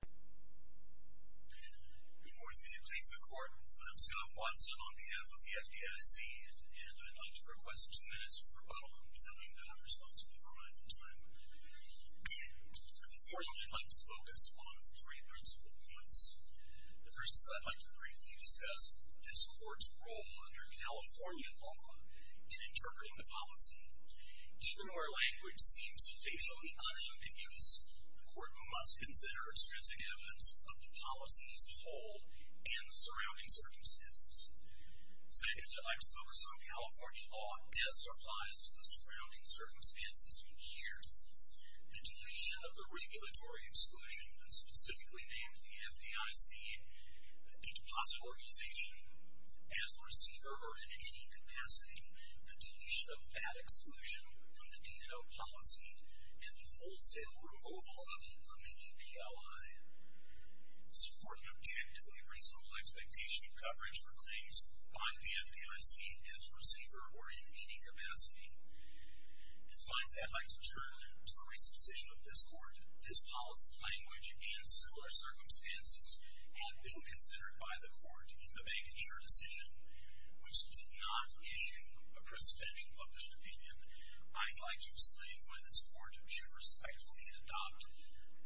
Good morning, and good day to the court. I'm Scott Watson on behalf of the FDIC, and I'd like to request two minutes for welcome, knowing that I'm responsible for my own time. For this morning, I'd like to focus on three principal points. The first is I'd like to briefly discuss this court's role under California law in interpreting the policy. Even though our language seems facially unambiguous, the court must consider extrinsic evidence of the policy as a whole and the surrounding circumstances. Second, I'd like to focus on California law as it applies to the surrounding circumstances we care to. The deletion of the regulatory exclusion that specifically named the FDIC a deposit organization as a receiver or in any capacity, the deletion of that exclusion from the DNL policy, and the wholesale removal of it from the EPLI. Supporting objectively reasonable expectation of coverage for claims by the FDIC as receiver or in any capacity. And finally, I'd like to turn to a recent decision of this court. This policy language and similar circumstances had been considered by the court in the bank insurer decision, which did not issue a presidential published opinion. I'd like to explain why this court should respectfully adopt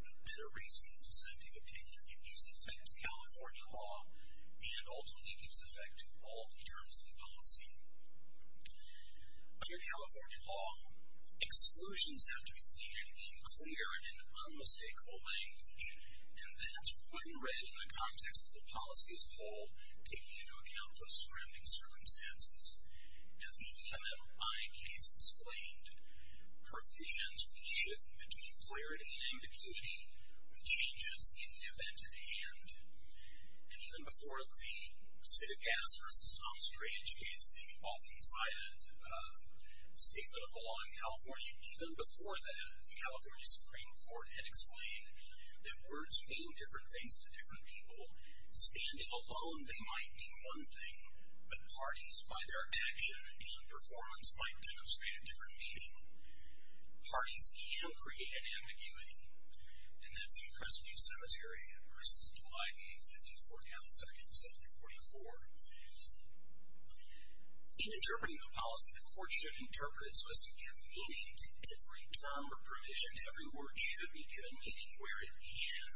the better reasoned dissenting opinion. It gives effect to California law and ultimately gives effect to all the terms of the policy. Under California law, exclusions have to be stated in clear and concise as a whole, taking into account those surrounding circumstances. As the EMLI case explained, percussions shift between clarity and ambiguity with changes in the event at hand. And even before the Citigas versus Tom Stray case, the often cited statement of the law in California, even before that, the California Supreme Court had explained that words mean different things to different people. Standing alone, they might mean one thing, but parties by their action and performance might demonstrate a different meaning. Parties can create an ambiguity, and that's in Crestview Cemetery versus July 8th, 54th House, 1744. In interpreting the policy, the court should interpret it so as to give meaning to every term or provision. Every word should be given meaning where it can.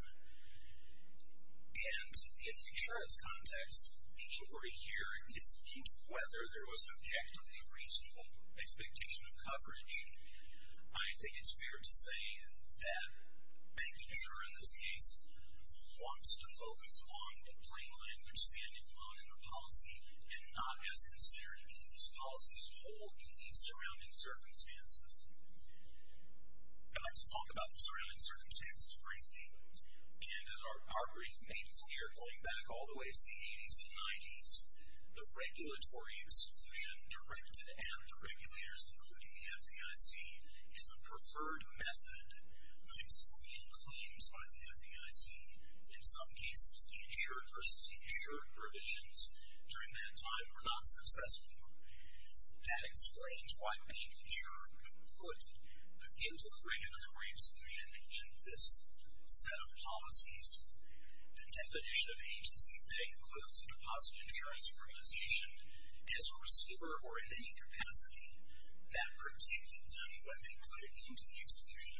And in the insurance context, the inquiry here gets into whether there was an objectively reasonable expectation of coverage. I think it's fair to say that bank insurer in this case wants to focus on the plain language standing alone in the policy and not as considering these policies whole in these surrounding circumstances. I'd like to talk about the surrounding circumstances briefly. And as our brief made clear going back all the way to the 80s and 90s, the regulatory exclusion directed at regulators, including the FDIC, is the preferred method of excluding claims by the FDIC. In some cases, the insured versus the insured provisions during that time were not successful. That explains why bank insurer could put into the regulatory exclusion in this set of policies the definition of agency that includes a deposit insurance organization as a receiver or in any capacity that protected them when they put it into the exclusion.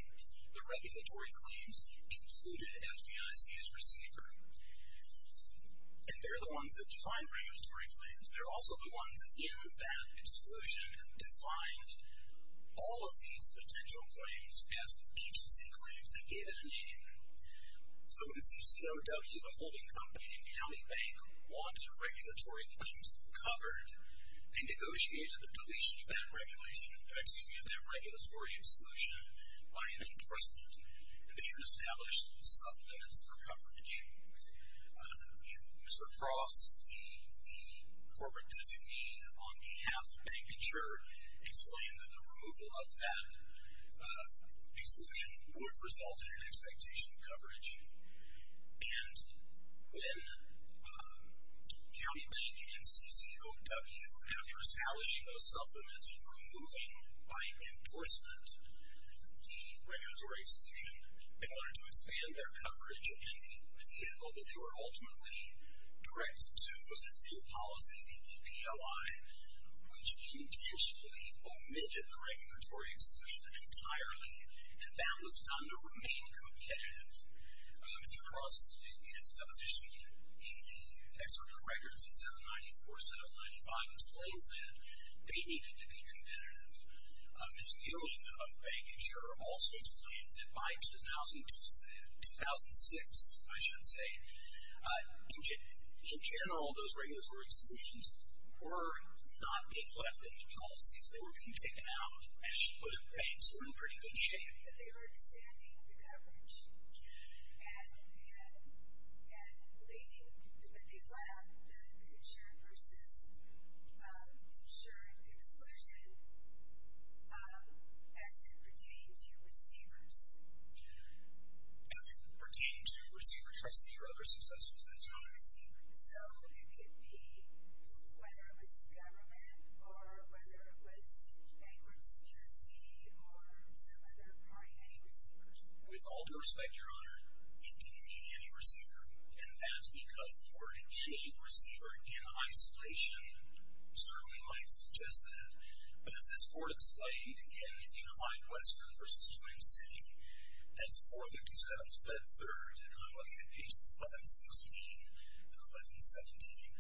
The regulatory claims included FDIC as receiver. And they're the ones that define regulatory claims. They're also the ones that, given that exclusion, defined all of these potential claims as agency claims that gave it a name. So when CCOW, the holding company in County Bank, wanted their regulatory claims covered, they negotiated the deletion of that regulation excuse me, of that regulatory exclusion by an endorsement. And they even established supplements for coverage. And Mr. Cross, the corporate designee on behalf of bank insurer, explained that the removal of that exclusion would result in an expectation of coverage. And when County Bank and CCOW, after establishing those supplements and removing by endorsement the regulatory exclusion, they wanted to expand their coverage in the vehicle that they were ultimately directed to was a new policy, the EPLI, which intentionally omitted the regulatory exclusion entirely. And that was done to remain competitive. Mr. Cross, in his deposition in the tax records in 794, 795, explains that they needed to be competitive. His viewing of bank insurer also explained that by 2006, in general, those regulatory exclusions were not being left in the policies. They were being taken out and put in banks in pretty good shape. They were expanding the coverage and leaving, but they left the insured versus insured exclusion as it pertained to receivers. As it pertained to receiver trustee or other successors, that's right. With all due respect, Your Honor, it didn't mean any receiver. And that's because the word any receiver in isolation certainly might suggest that. But as this Court explained again in Unified Western versus Twin City, that's 457, Fed 3rd, and I'm looking at pages 1116 and 1117,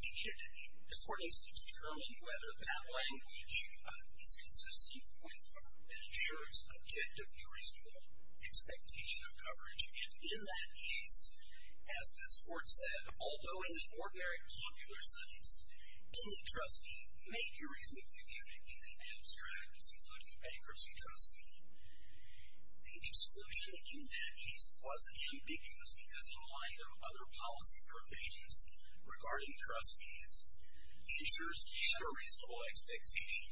they needed to be discordant to determine whether that language is consistent with an insurer's objective, a reasonable expectation of coverage. And in that case, as this Court said, although in the ordinary popular science, any trustee may be reasonably excluded in the abstract, including bankruptcy trustee, the exclusion in that case wasn't ambiguous because in the light of other policy provisions regarding trustees, insurers can have a reasonable expectation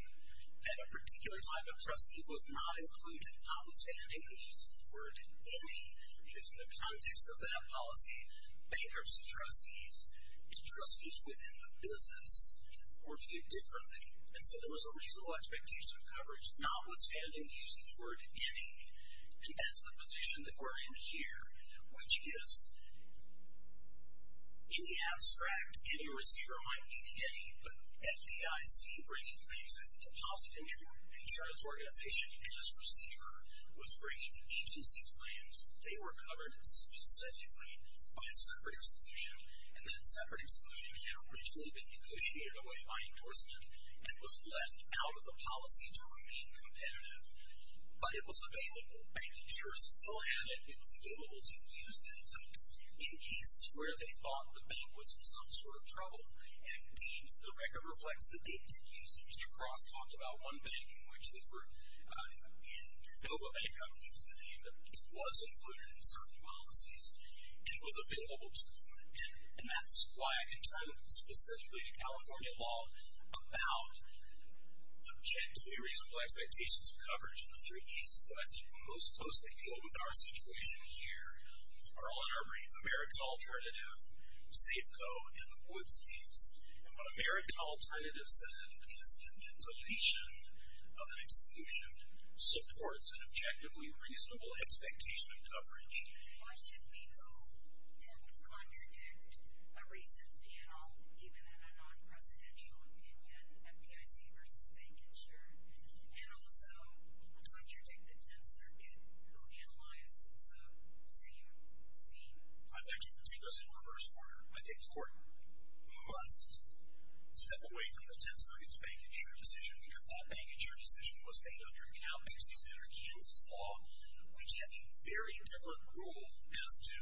that a particular type of trustee was not included, notwithstanding the use of the word any, which is in the context of that policy, bankruptcy trustees, and trustees within the business were viewed differently. And so there was a reasonable expectation of coverage, notwithstanding the use of the word any, and that's the position that we're in here, which is any abstract, any receiver might mean any, but FDIC bringing claims as a deposit and true insurance organization as receiver was bringing agency claims. They were covered specifically by a separate exclusion, and that separate exclusion had originally been negotiated away by endorsement and was left out of the policy to remain competitive, but it was available. Bank insurers still had it. It was available to use it in cases where they thought the bank was in some sort of trouble, and indeed, the record reflects that they did use it. Mr. Cross talked about one bank in which they were, in Nova Bank, I believe is the name, that was included in certain policies, and it was available to them, and that's why I can turn specifically to California law about objectively reasonable expectations of coverage in the three cases that I think most closely deal with our situation here are all in our brief American Alternative, Safeco, and the Woods case. And what American Alternative is is a case where the court is making an objectively reasonable expectation of coverage. Why should we go and contradict a recent panel, even in a non-presidential opinion, FDIC versus Bank Insure, and also contradict the Tenth Circuit, who analyze the same scheme? I think you can take those in reverse order. I think the court must step away from the Tenth Circuit's Bank Insure decision because that Bank Insure decision was made under a CalBank season under Kansas law, which has a very different rule as to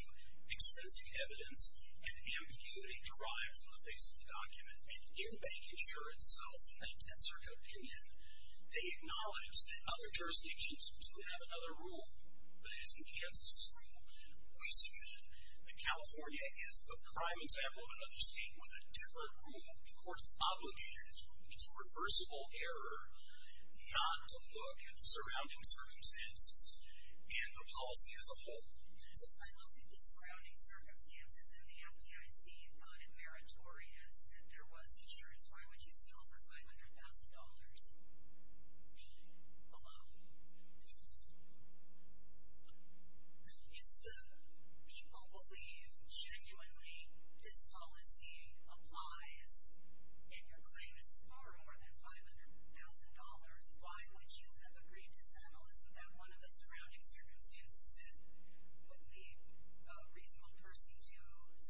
extensive evidence and ambiguity derived from the face of the document. And in Bank Insure itself, in that Tenth Circuit opinion, they acknowledge that other jurisdictions do have another rule that is in Kansas's rule. We suggest that California is the prime example of another state with a different rule. The court's obligated, it's reversible error, not to look at the surrounding circumstances in the policy as a whole. So if I looked at the surrounding circumstances in the FDIC, thought it meritorious that there was insurance, why would you sell for $500,000? Hello? If the people believe genuinely this policy applies and your claim is far more than $500,000, why would you have agreed to settle? Isn't that one of the surrounding circumstances that would lead a reasonable person to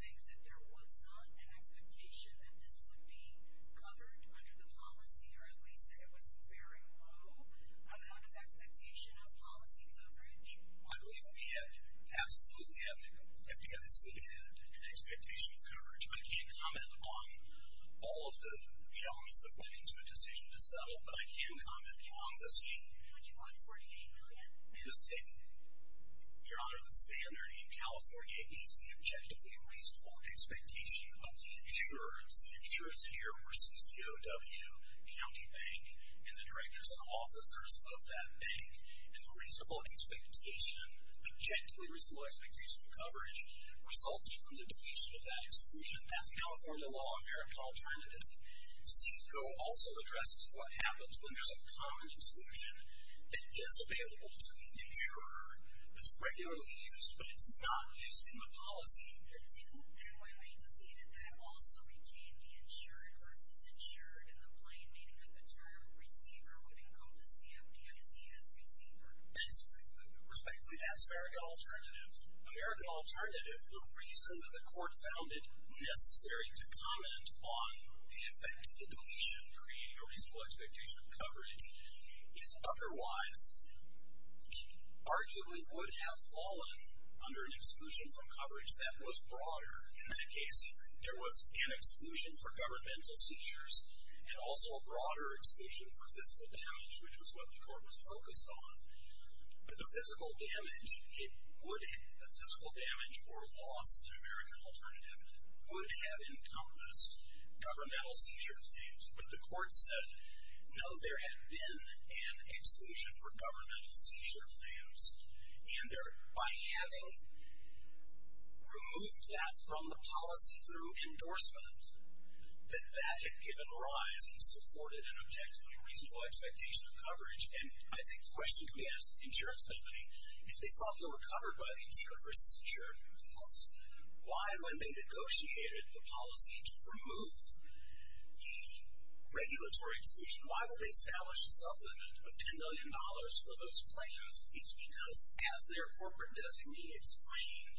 think that there was not an expectation that this would be covered under the policy, or at least that it was very low amount of expectation of policy coverage? I believe we absolutely have, the FDIC had an expectation of coverage. I can't comment on all of the elements that went into a decision to settle, but I can comment on the state $2,548,000,000. The state, your honor, the state of California is the objectively reasonable expectation of the insurers. The insurers here were CCOW, County Bank, and the directors and officers of that bank. And the reasonable expectation, the objectively reasonable expectation of coverage resulted from the deletion of that exclusion. That's California law, American Alternative. CCOW also addresses what happens when there's a common exclusion. It is available to the insurer, it's regularly used, but it's not used in the policy. Do you think that when we deleted that, also retained the insured versus insured in the plain meaning of the term receiver would encompass the FDIC as receiver? Respectfully, that's American Alternative. American Alternative, the reason that the court found it necessary to comment on the effect of the deletion creating a reasonable expectation of coverage is otherwise arguably would have fallen under an exclusion from coverage that was broader. In that case, there was an exclusion for governmental seizures and also a broader exclusion for physical damage, which was what the court was focused on. But the physical damage or loss of the American Alternative would have encompassed governmental seizure claims. But the court said, no, there had been an exclusion for governmental seizure claims. And by having removed that from the policy through endorsement, that that had given rise and supported an objectively reasonable expectation of coverage. And I think the question to be asked of the insurance company, if they thought they were covered by the insured versus insured results, why when they negotiated the policy to remove the regulatory exclusion, why would they establish a supplement of $10 million for those claims? It's because as their corporate designee explained,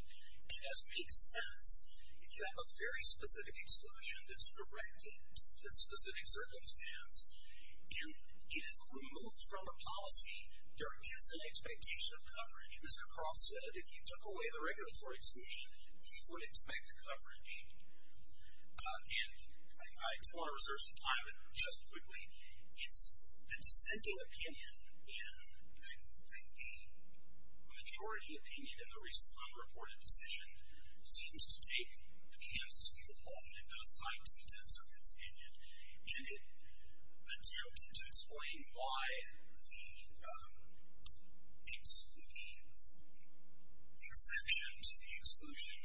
and as makes sense, if you have a very specific exclusion that's directed to a specific circumstance and it is removed from a policy, there is an expectation of coverage. Mr. Cross said, if you took away the regulatory exclusion, you would expect coverage. And I do want to reserve some time just quickly. It's a dissenting opinion, and I think the majority opinion in the recent unreported decision seems to make the Kansas people hold an endosite to the dissenters' opinion. And it led DOP to explain why the exception to the exclusion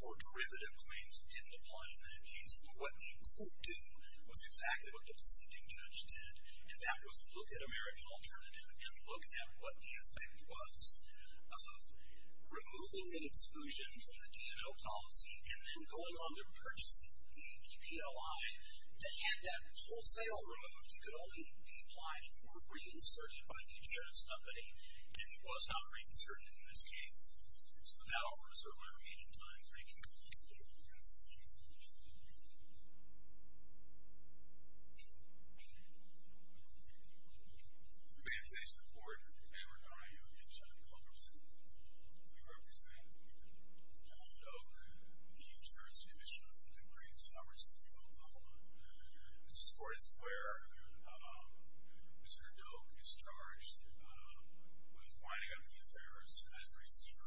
for derivative claims didn't apply in that case. But what the court did was exactly what the proceeding judge did, and that was look at American Alternative and look at what the effect was of removal and exclusion from the policy, and then going on to purchase the APPLI that had that wholesale removed. It could only be applied or reinserted by the insurance company, and it was not reinserted in this case. So with that, I'll reserve my remaining time. Thank you. Thank you. My name is Ashton Ford, and I work on IOU against John Culbertson. I represent John Doak, the insurance commissioner for the Greens, Howard City, Oklahoma. This is a court where Mr. Doak is charged with winding up the affairs as a receiver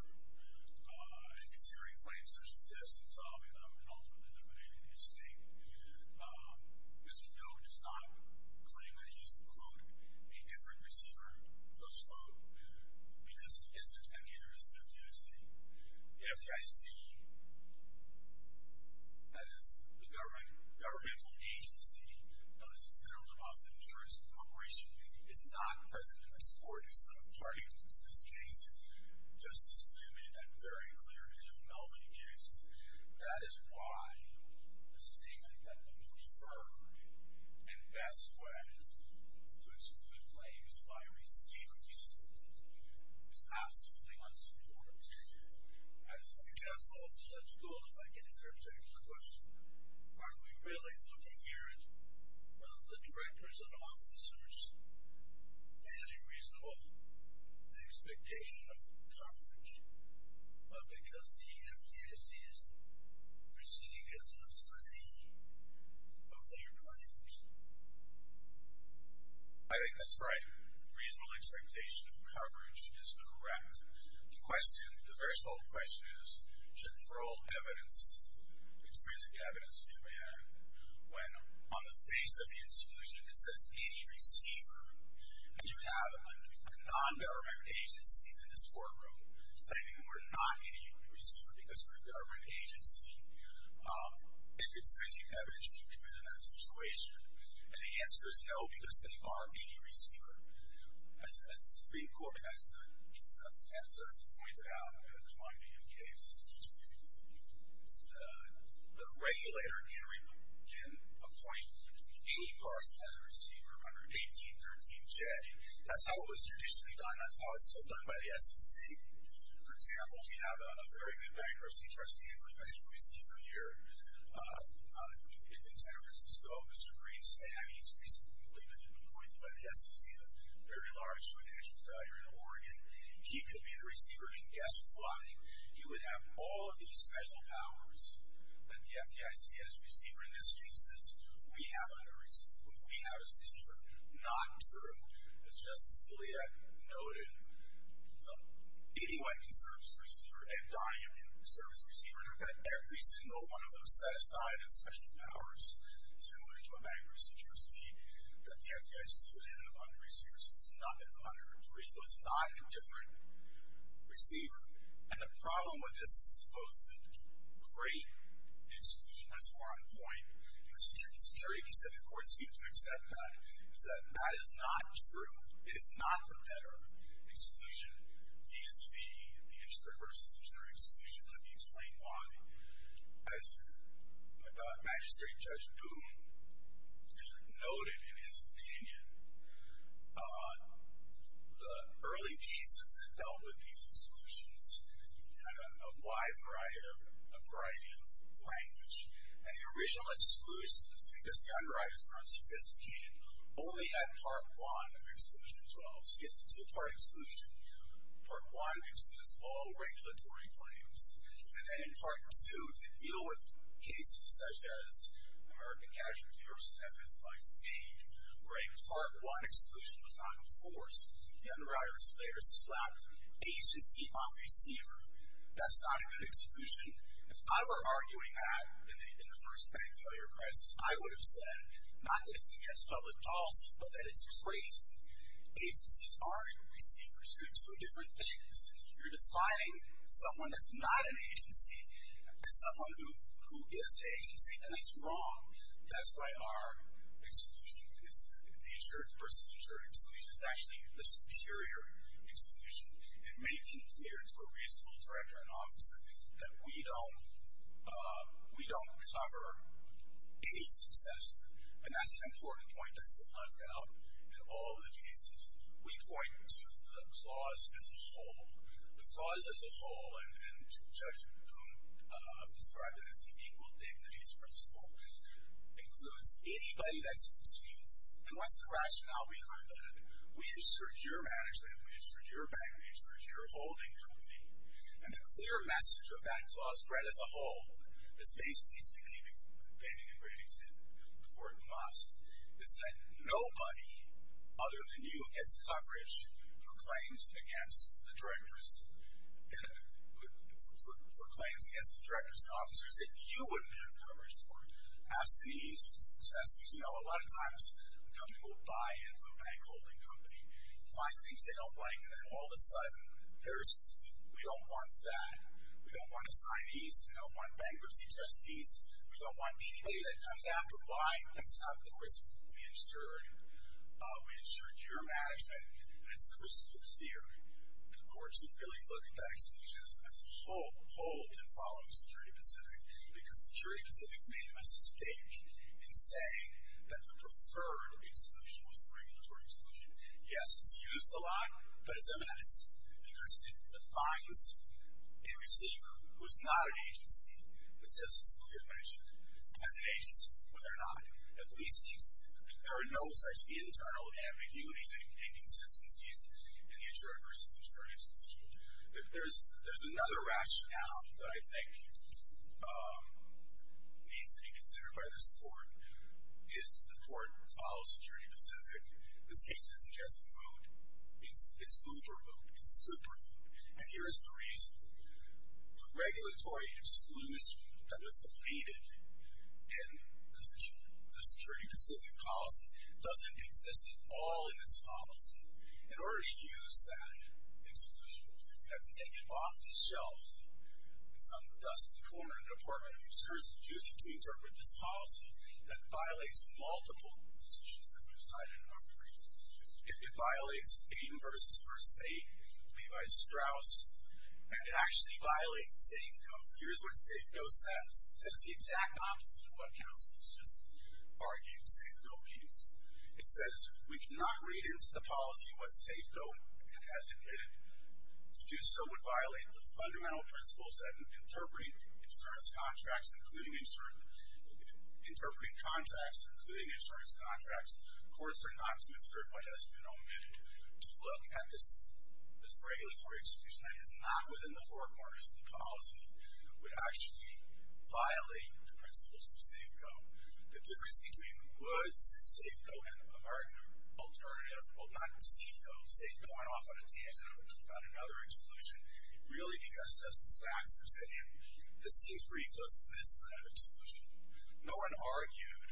and considering claims such as subsistence, solving them, and ultimately eliminating the mistake. Mr. Doak does not claim that he's, quote, a different receiver, close quote, because he isn't, and neither is the FDIC. The FDIC, that is the governmental agency that is in charge of the insurance corporation, is not present in this court. It's not a party to this case. Justice Blument made that very clear in the Melvin case. That is why a statement that will be referred in best way to exclude claims by a receiver is absolutely unsupportive. I think that's all. So that's good. If I can interject a question. Are we really looking here at whether the directors and officers had a reasonable expectation of coverage, but because the FDIC is proceeding as an assignee of their claims? I think that's right. Reasonable expectation of coverage is correct. The question, the very sole question is, should parole evidence, extrinsic evidence, demand when on the face of the intrusion it says any receiver, and you have a non-government agency in this courtroom claiming we're not any receiver because we're a government agency, is extrinsic evidence to demand in that situation? And the answer is no, because they are any receiver. As the attorney pointed out in the Claremontian case, the regulator can appoint any parties as a receiver under 1813J. That's how it was traditionally done. That's how it's still done by the SEC. For example, we have a very good bankruptcy trustee and professional receiver here in San Francisco, Mr. Green's family. He's recently been appointed by the SEC, a very large financial investor in Oregon. He could be the receiver, and guess what? He would have all of these special powers that the FDIC has as a receiver in this case since we have him as a receiver. Not true. As Justice Gilead noted, anyone can serve as a receiver, and Donnie can serve as a receiver, and we've had every single one of those set aside as special powers, similar to a bankruptcy trustee, that the FDIC would have under a receiver, so it's not under 1813J, so it's not a different receiver. And the problem with this supposed to create exclusion, that's more on point, and the Security and Conservative Courts seem to accept that, is that that is not true. It is not for better exclusion. These would be the intradiversal exclusions. Let me explain why. As Magistrate Judge Boone noted in his opinion, the early pieces that dealt with these exclusions had a wide variety of language, and the original exclusions, because the underwriters were unsophisticated, only had part one exclusion as well, so it's a two-part exclusion. Part one excludes all regulatory claims, and then in part two, to deal with cases such as American Casualty vs. FSYC, where a part one exclusion was not enforced, the underwriters later slapped agency on receiver. That's not a good exclusion. If I were arguing that in the first bank failure crisis, I would have said not that it's against public policy, but that it's crazy. Agencies aren't receivers. You're doing different things. You're defining someone that's not an agency as someone who is agency, and that's wrong. That's why our exclusion is the insured vs. insured exclusion. It's actually the superior exclusion in making clear to a reasonable director and officer that we don't cover a successor, and that's an important point that's been left out in all of the cases. We point to the clause as a whole. The clause as a whole, and Judge Boone described it as the equal dignities principle, includes anybody that succeeds, and what's the rationale behind that? We insure your management, we insure your bank, we insure your holding company, and the clear message of that clause as a whole is based on these bannings and ratings, and the word must, is that nobody other than you gets coverage for claims against the directors, for claims against the directors and officers that you wouldn't have coverage for. As to these successors, you know, a lot of times, a company will buy into a bank holding company, find things they don't like, and then all of a sudden, there's, we don't want that. We don't want assignees, we don't want bankruptcy trustees, we don't want anybody that comes after, why? That's not the risk we insured. We insured your management, and it's a critical theory. Courts are really looking at exclusions as a whole in following security-specific, because security-specific made a mistake in saying that the preferred exclusion was the regulatory exclusion. Yes, it's used a lot, but it's a mess, because it defines a receiver who is not an agency, but says it's clear management, as an agency, when they're not. At least these, there are no such internal ambiguities and inconsistencies in the insurer versus the insurer institution. There's another rationale that I think needs to be considered by this court, is the court follows security-specific. This case isn't just moot, it's uber-moot, it's super-moot, and here is the reason. The regulatory exclusion that was deleted in the security-specific policy doesn't exist at all in this policy. In order to use that exclusion, you have to take it off the shelf. It's on the dusty corner of the Department of Insurance to use it to interpret this policy that violates multiple decisions that were decided in our brief. It violates Aiden versus First State, Levi Strauss, and it actually violates Safeco. Here's what Safeco says. It says the exact opposite of what counsels just argue in Safeco meetings. It says we cannot read into the policy what Safeco has admitted. To do so would violate the fundamental principles that interpret insurance contracts, including insurance contracts. Courts are not to insert what has been omitted. To look at this regulatory exclusion that is not within the four corners of the policy would actually violate the principles of Safeco. The difference between Woods, Safeco, and American Alternative, well, not Safeco, Safeco went off on a tangent on another exclusion, really because Justice Baxter said, this seems pretty close to this kind of exclusion. No one argued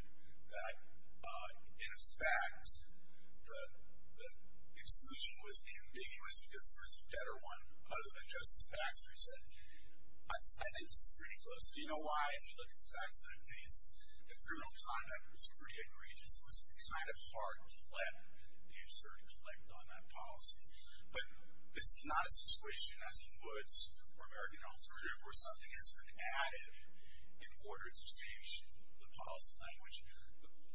that, in fact, the exclusion was ambiguous because there was a better one other than Justice Baxter who said, I think this is pretty close. Do you know why? If you look at the facts of that case, the criminal conduct was pretty egregious. It was kind of hard to let the assertive elect on that policy. But this is not a situation, as in Woods or American Alternative, where something has been added in order to change the policy language.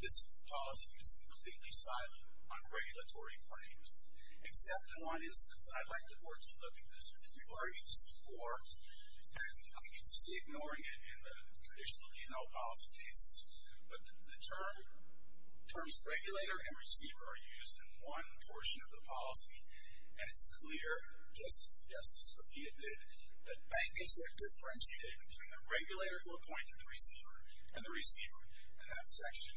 This policy is completely silent on regulatory claims, except in one instance. I'd like the board to look at this, because people have argued this before, and I can see ignoring it in the traditional P&L policy cases. But the terms regulator and receiver are used in one portion of the policy, and it's clear, just as Justice Sophia did, that banking sector differentiated between the regulator who appointed the receiver and the receiver. In that section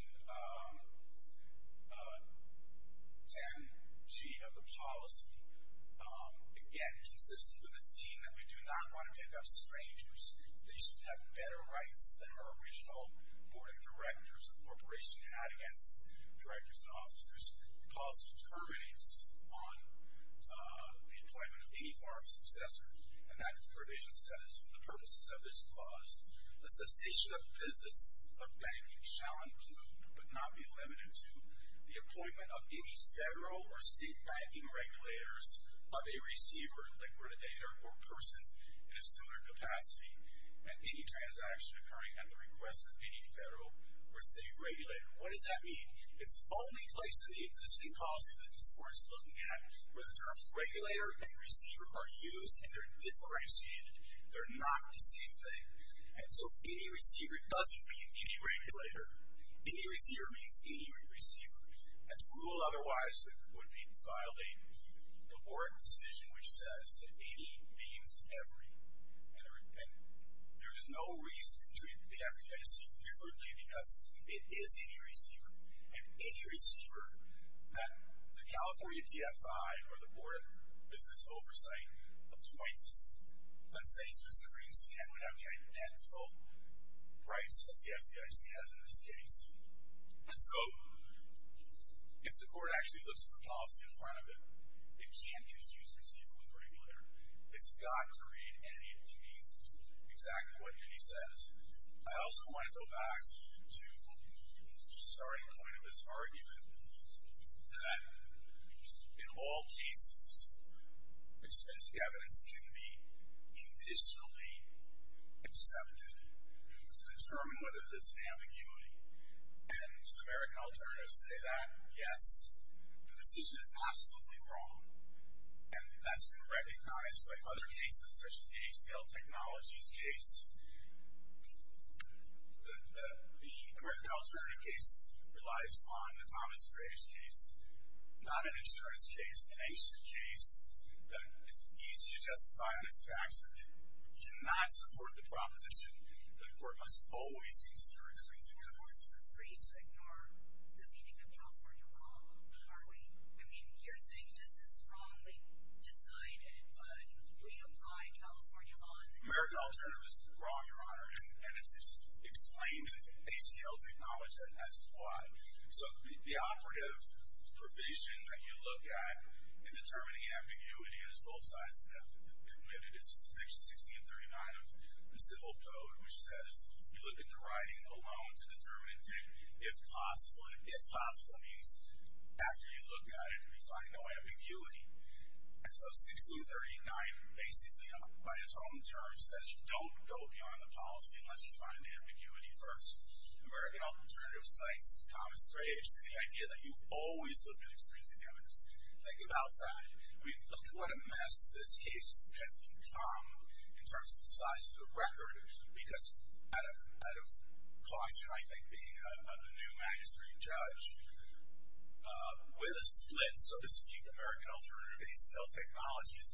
10G of the policy, again, consistent with the theme that we do not want to pick up strangers. They should have better rights than our original board of directors and corporation had against directors and officers. The clause determinates on the employment of any form of successor, and that provision says, for the purposes of this clause, the cessation of business of banking shall include, but not be limited to, the appointment of any federal or state banking regulators of a receiver, like we're today, or a person in a similar capacity, and any transaction occurring at the request of any federal or state regulator. What does that mean? It's the only place in the existing policy that this board is looking at where the terms regulator and receiver are used, and they're differentiated. They're not the same thing, and so any receiver doesn't mean any regulator. Any receiver means any receiver, and to rule otherwise would be violating the board decision which says that any means every, and there is no reason to treat the FDIC differently because it is any receiver, and any receiver that the California DFI or the board of business oversight appoints let's say specifically is to have identical rights as the FDIC has in this case, and so if the court actually looks at the policy in front of it, it can't confuse receiver with regulator. It's got to read any of the exactly what he says. I also want to go back to the starting point of this argument that in all cases, extensive evidence can be indicially accepted to determine whether there's an ambiguity, and does American Alternative say that? Yes. The decision is absolutely wrong, and that's been recognized by other cases such as the ACL Technologies case. The American Alternative case relies on the Thomas Graves case, not an insurance case, that is easy to justify, but it's facts that do not support the proposition that the court must always consider extensive evidence. We're free to ignore the meaning of California law, aren't we? I mean, you're saying this is wrongly decided, but we apply California law. American Alternative is wrong, Your Honor, and it's explained in the ACL Technology as to why. So the operative provision that you look at in determining ambiguity is both sides have committed. It's Section 1639 of the Civil Code, which says you look at the writing alone to determine if possible. If possible means after you look at it, you find no ambiguity. And so 1639 basically by its own terms says don't go beyond the policy unless you find the ambiguity first. American Alternative cites Thomas Graves to the idea that you always look at extrinsic evidence. Think about that. Look at what a mess this case has become in terms of the size of the record because out of caution, I think, being a new magistrate judge, with a split, so to speak, American Alternative ACL Technologies,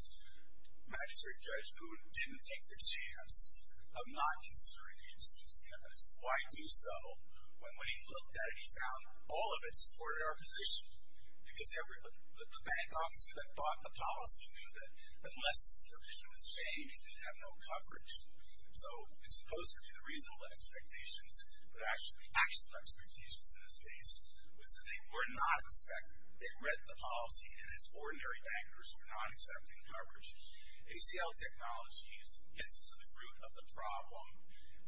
magistrate judge Boone didn't take the chance of not considering the extrinsic evidence. Why do so? When he looked at it, he found all of it supported our position because the bank officer that bought the policy knew that unless this provision was changed, it would have no coverage. So it's supposed to be the reasonable expectations, but actually the actual expectations in this case was that they were not expected. They read the policy and, as ordinary bankers, were not expecting coverage. ACL Technologies gets to the root of the problem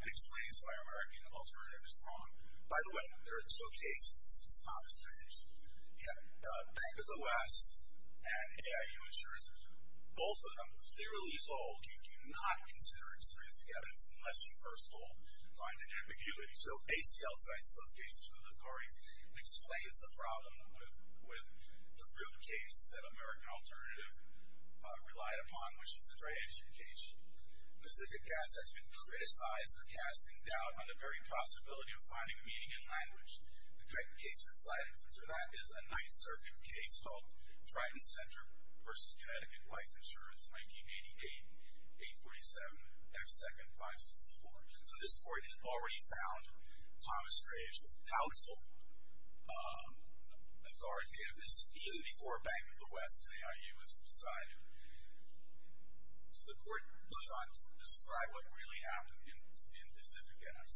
and explains why American Alternative is wrong. By the way, there are two cases. It's not strange. The Bank of the West and AIU Insurance, both of them clearly hold you do not consider extrinsic evidence unless you first of all find an ambiguity. So ACL cites those cases to the authorities and explains the problem with the root case that American Alternative relied upon, which is the dry agent case. Pacific Gas has been criticized for casting doubt on the very possibility of finding meaning in language. The correct case to cite for that is a Ninth Circuit case called Triton Center v. Connecticut Life Insurance, 1988, 847, F2, 564. So this court has already found Thomas Strange with doubtful authoritativeness even before Bank of the West and AIU was decided. So the court goes on to describe what really happened in Pacific Gas,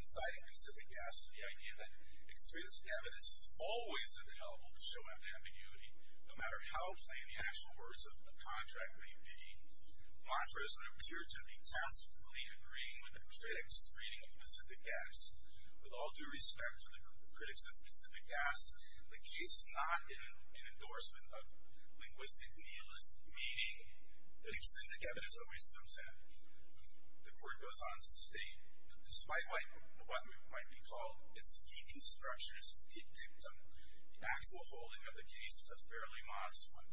inciting Pacific Gas to the idea that extrinsic evidence is always available to show an ambiguity no matter how plain the actual words of a contract may be. Contrasts would appear to be tacitly agreeing with the critics' reading of Pacific Gas. With all due respect to the critics of Pacific Gas, the case is not an endorsement of linguistic nihilist meaning that extrinsic evidence always comes in. The court goes on to state that despite what might be called its deconstructionist dictum, the actual holding of the case is a fairly modest one.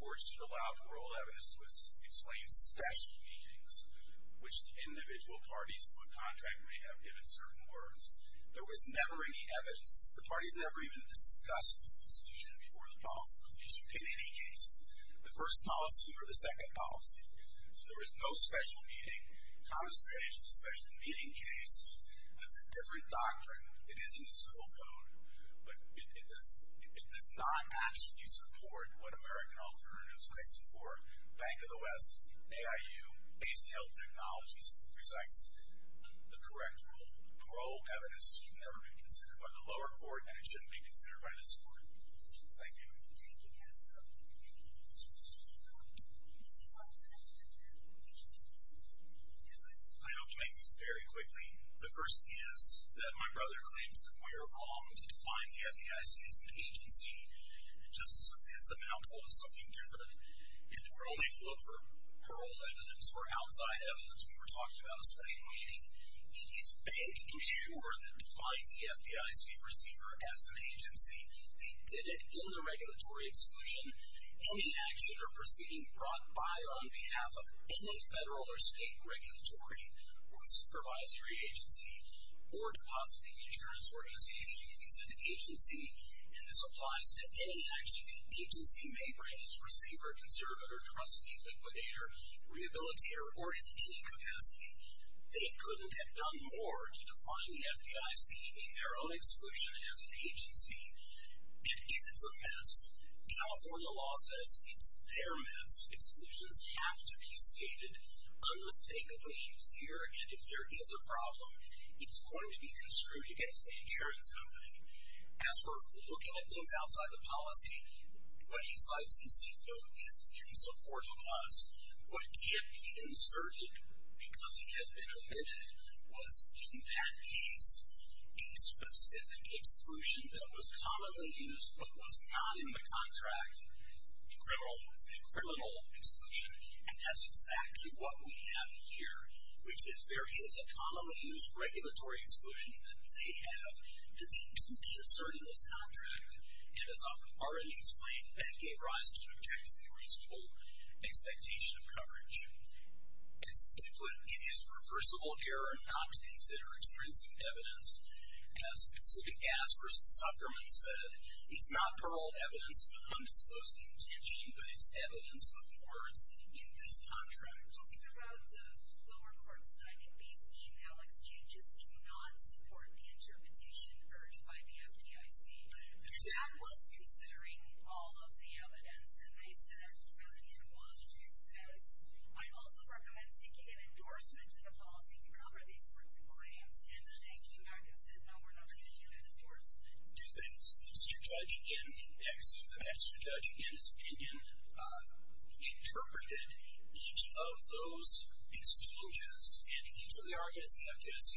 Courts should allow parole evidence to explain special meanings, which the individual parties to a contract may have given certain words. There was never any evidence. The parties never even discussed this constitution before the policy was issued. In any case, the first policy or the second policy. So there was no special meaning. Thomas Strange is a special meaning case. It has a different doctrine. It is in the civil code, but it does not actually support what American Alternatives Bank of the West, AIU, ACL Technologies, resects the correct rule. Parole evidence should never be considered by the lower court, and it shouldn't be considered by this court. Thank you. Thank you, Hansel. Thank you. Thank you, Mr. Shepard. Mr. Watson, I have two questions. Yes, sir. I know you make these very quickly. The first is that my brother claims that we are wrong to define the FBI as an agency. It just is a mouthful of something different. If we're only to look for parole evidence or outside evidence, we were talking about a special meaning. It is bank insurer that defined the FDIC receiver as an agency. They did it in the regulatory exclusion. Any action or proceeding brought by or on behalf of any federal or state regulatory or supervisory agency or depositing insurance for an agency is an agency, and this applies to any agency, may raise receiver, conservator, trustee, liquidator, rehabilitator, or in any capacity. They couldn't have done more to define the FDIC in their own exclusion as an agency. It is a mess. California law says it's their mess. Exclusions have to be stated unmistakably here, and if there is a problem, it's going to be construed against the insurance company. As for looking at things outside the policy, what he cites in his note is in support of us. What can't be inserted because it has been omitted was, in that case, a specific exclusion that was commonly used but was not in the contract, the criminal exclusion, and that's exactly what we have here, which is there is a commonly used regulatory exclusion that they have. The need didn't be asserted in this contract, and as I've already explained, that gave rise to an objectively reasonable expectation of coverage. As he put it, it is reversible error not to consider extrinsic evidence. As Pacific Gas versus Suckerman said, it's not paroled evidence of undisposed intention, but it's evidence of words in this contract. Well, think about the lower court's finding. These e-mail exchanges do not support the interpretation urged by the FDIC, and that was considering all of the evidence, and they said everything was concise. I'd also recommend seeking an endorsement to the policy to cover these sorts of claims, and I think you back and said, no, we're not going to do that endorsement. Mr. Judge, in the next judge, in his opinion, he interpreted each of those exchanges and each of the arguments the FDIC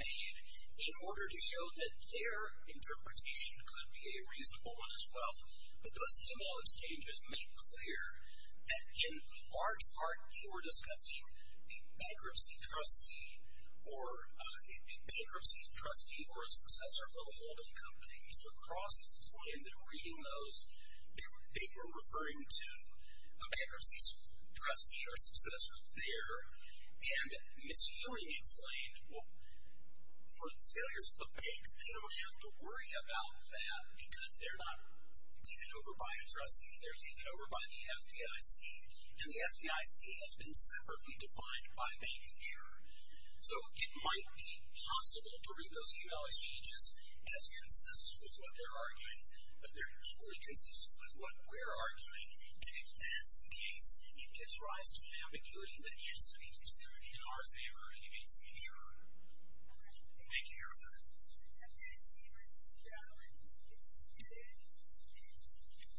made in order to show that their interpretation could be a reasonable one as well, but those e-mail exchanges make clear that in large part they were discussing a bankruptcy trustee or a bankruptcy trustee or a successor from a holding company. Mr. Cross has explained that in reading those, they were referring to a bankruptcy trustee or successor there, and Ms. Ewing explained, well, for the failures of the bank, they don't have to worry about that because they're not taken over by a trustee. They're taken over by the FDIC, and the FDIC has been separately defined by bank and jury. So it might be possible to read those e-mail exchanges as consistent with what they're arguing, but they're not equally consistent with what we're arguing, and if that's the case, it gives rise to an ambiguity that has to be considered in our favor and against the jury. Thank you, everyone. The FDIC v. Donovan is submitted,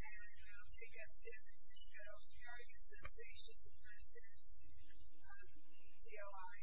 and we'll take up San Francisco, the Argus Association versus DOI.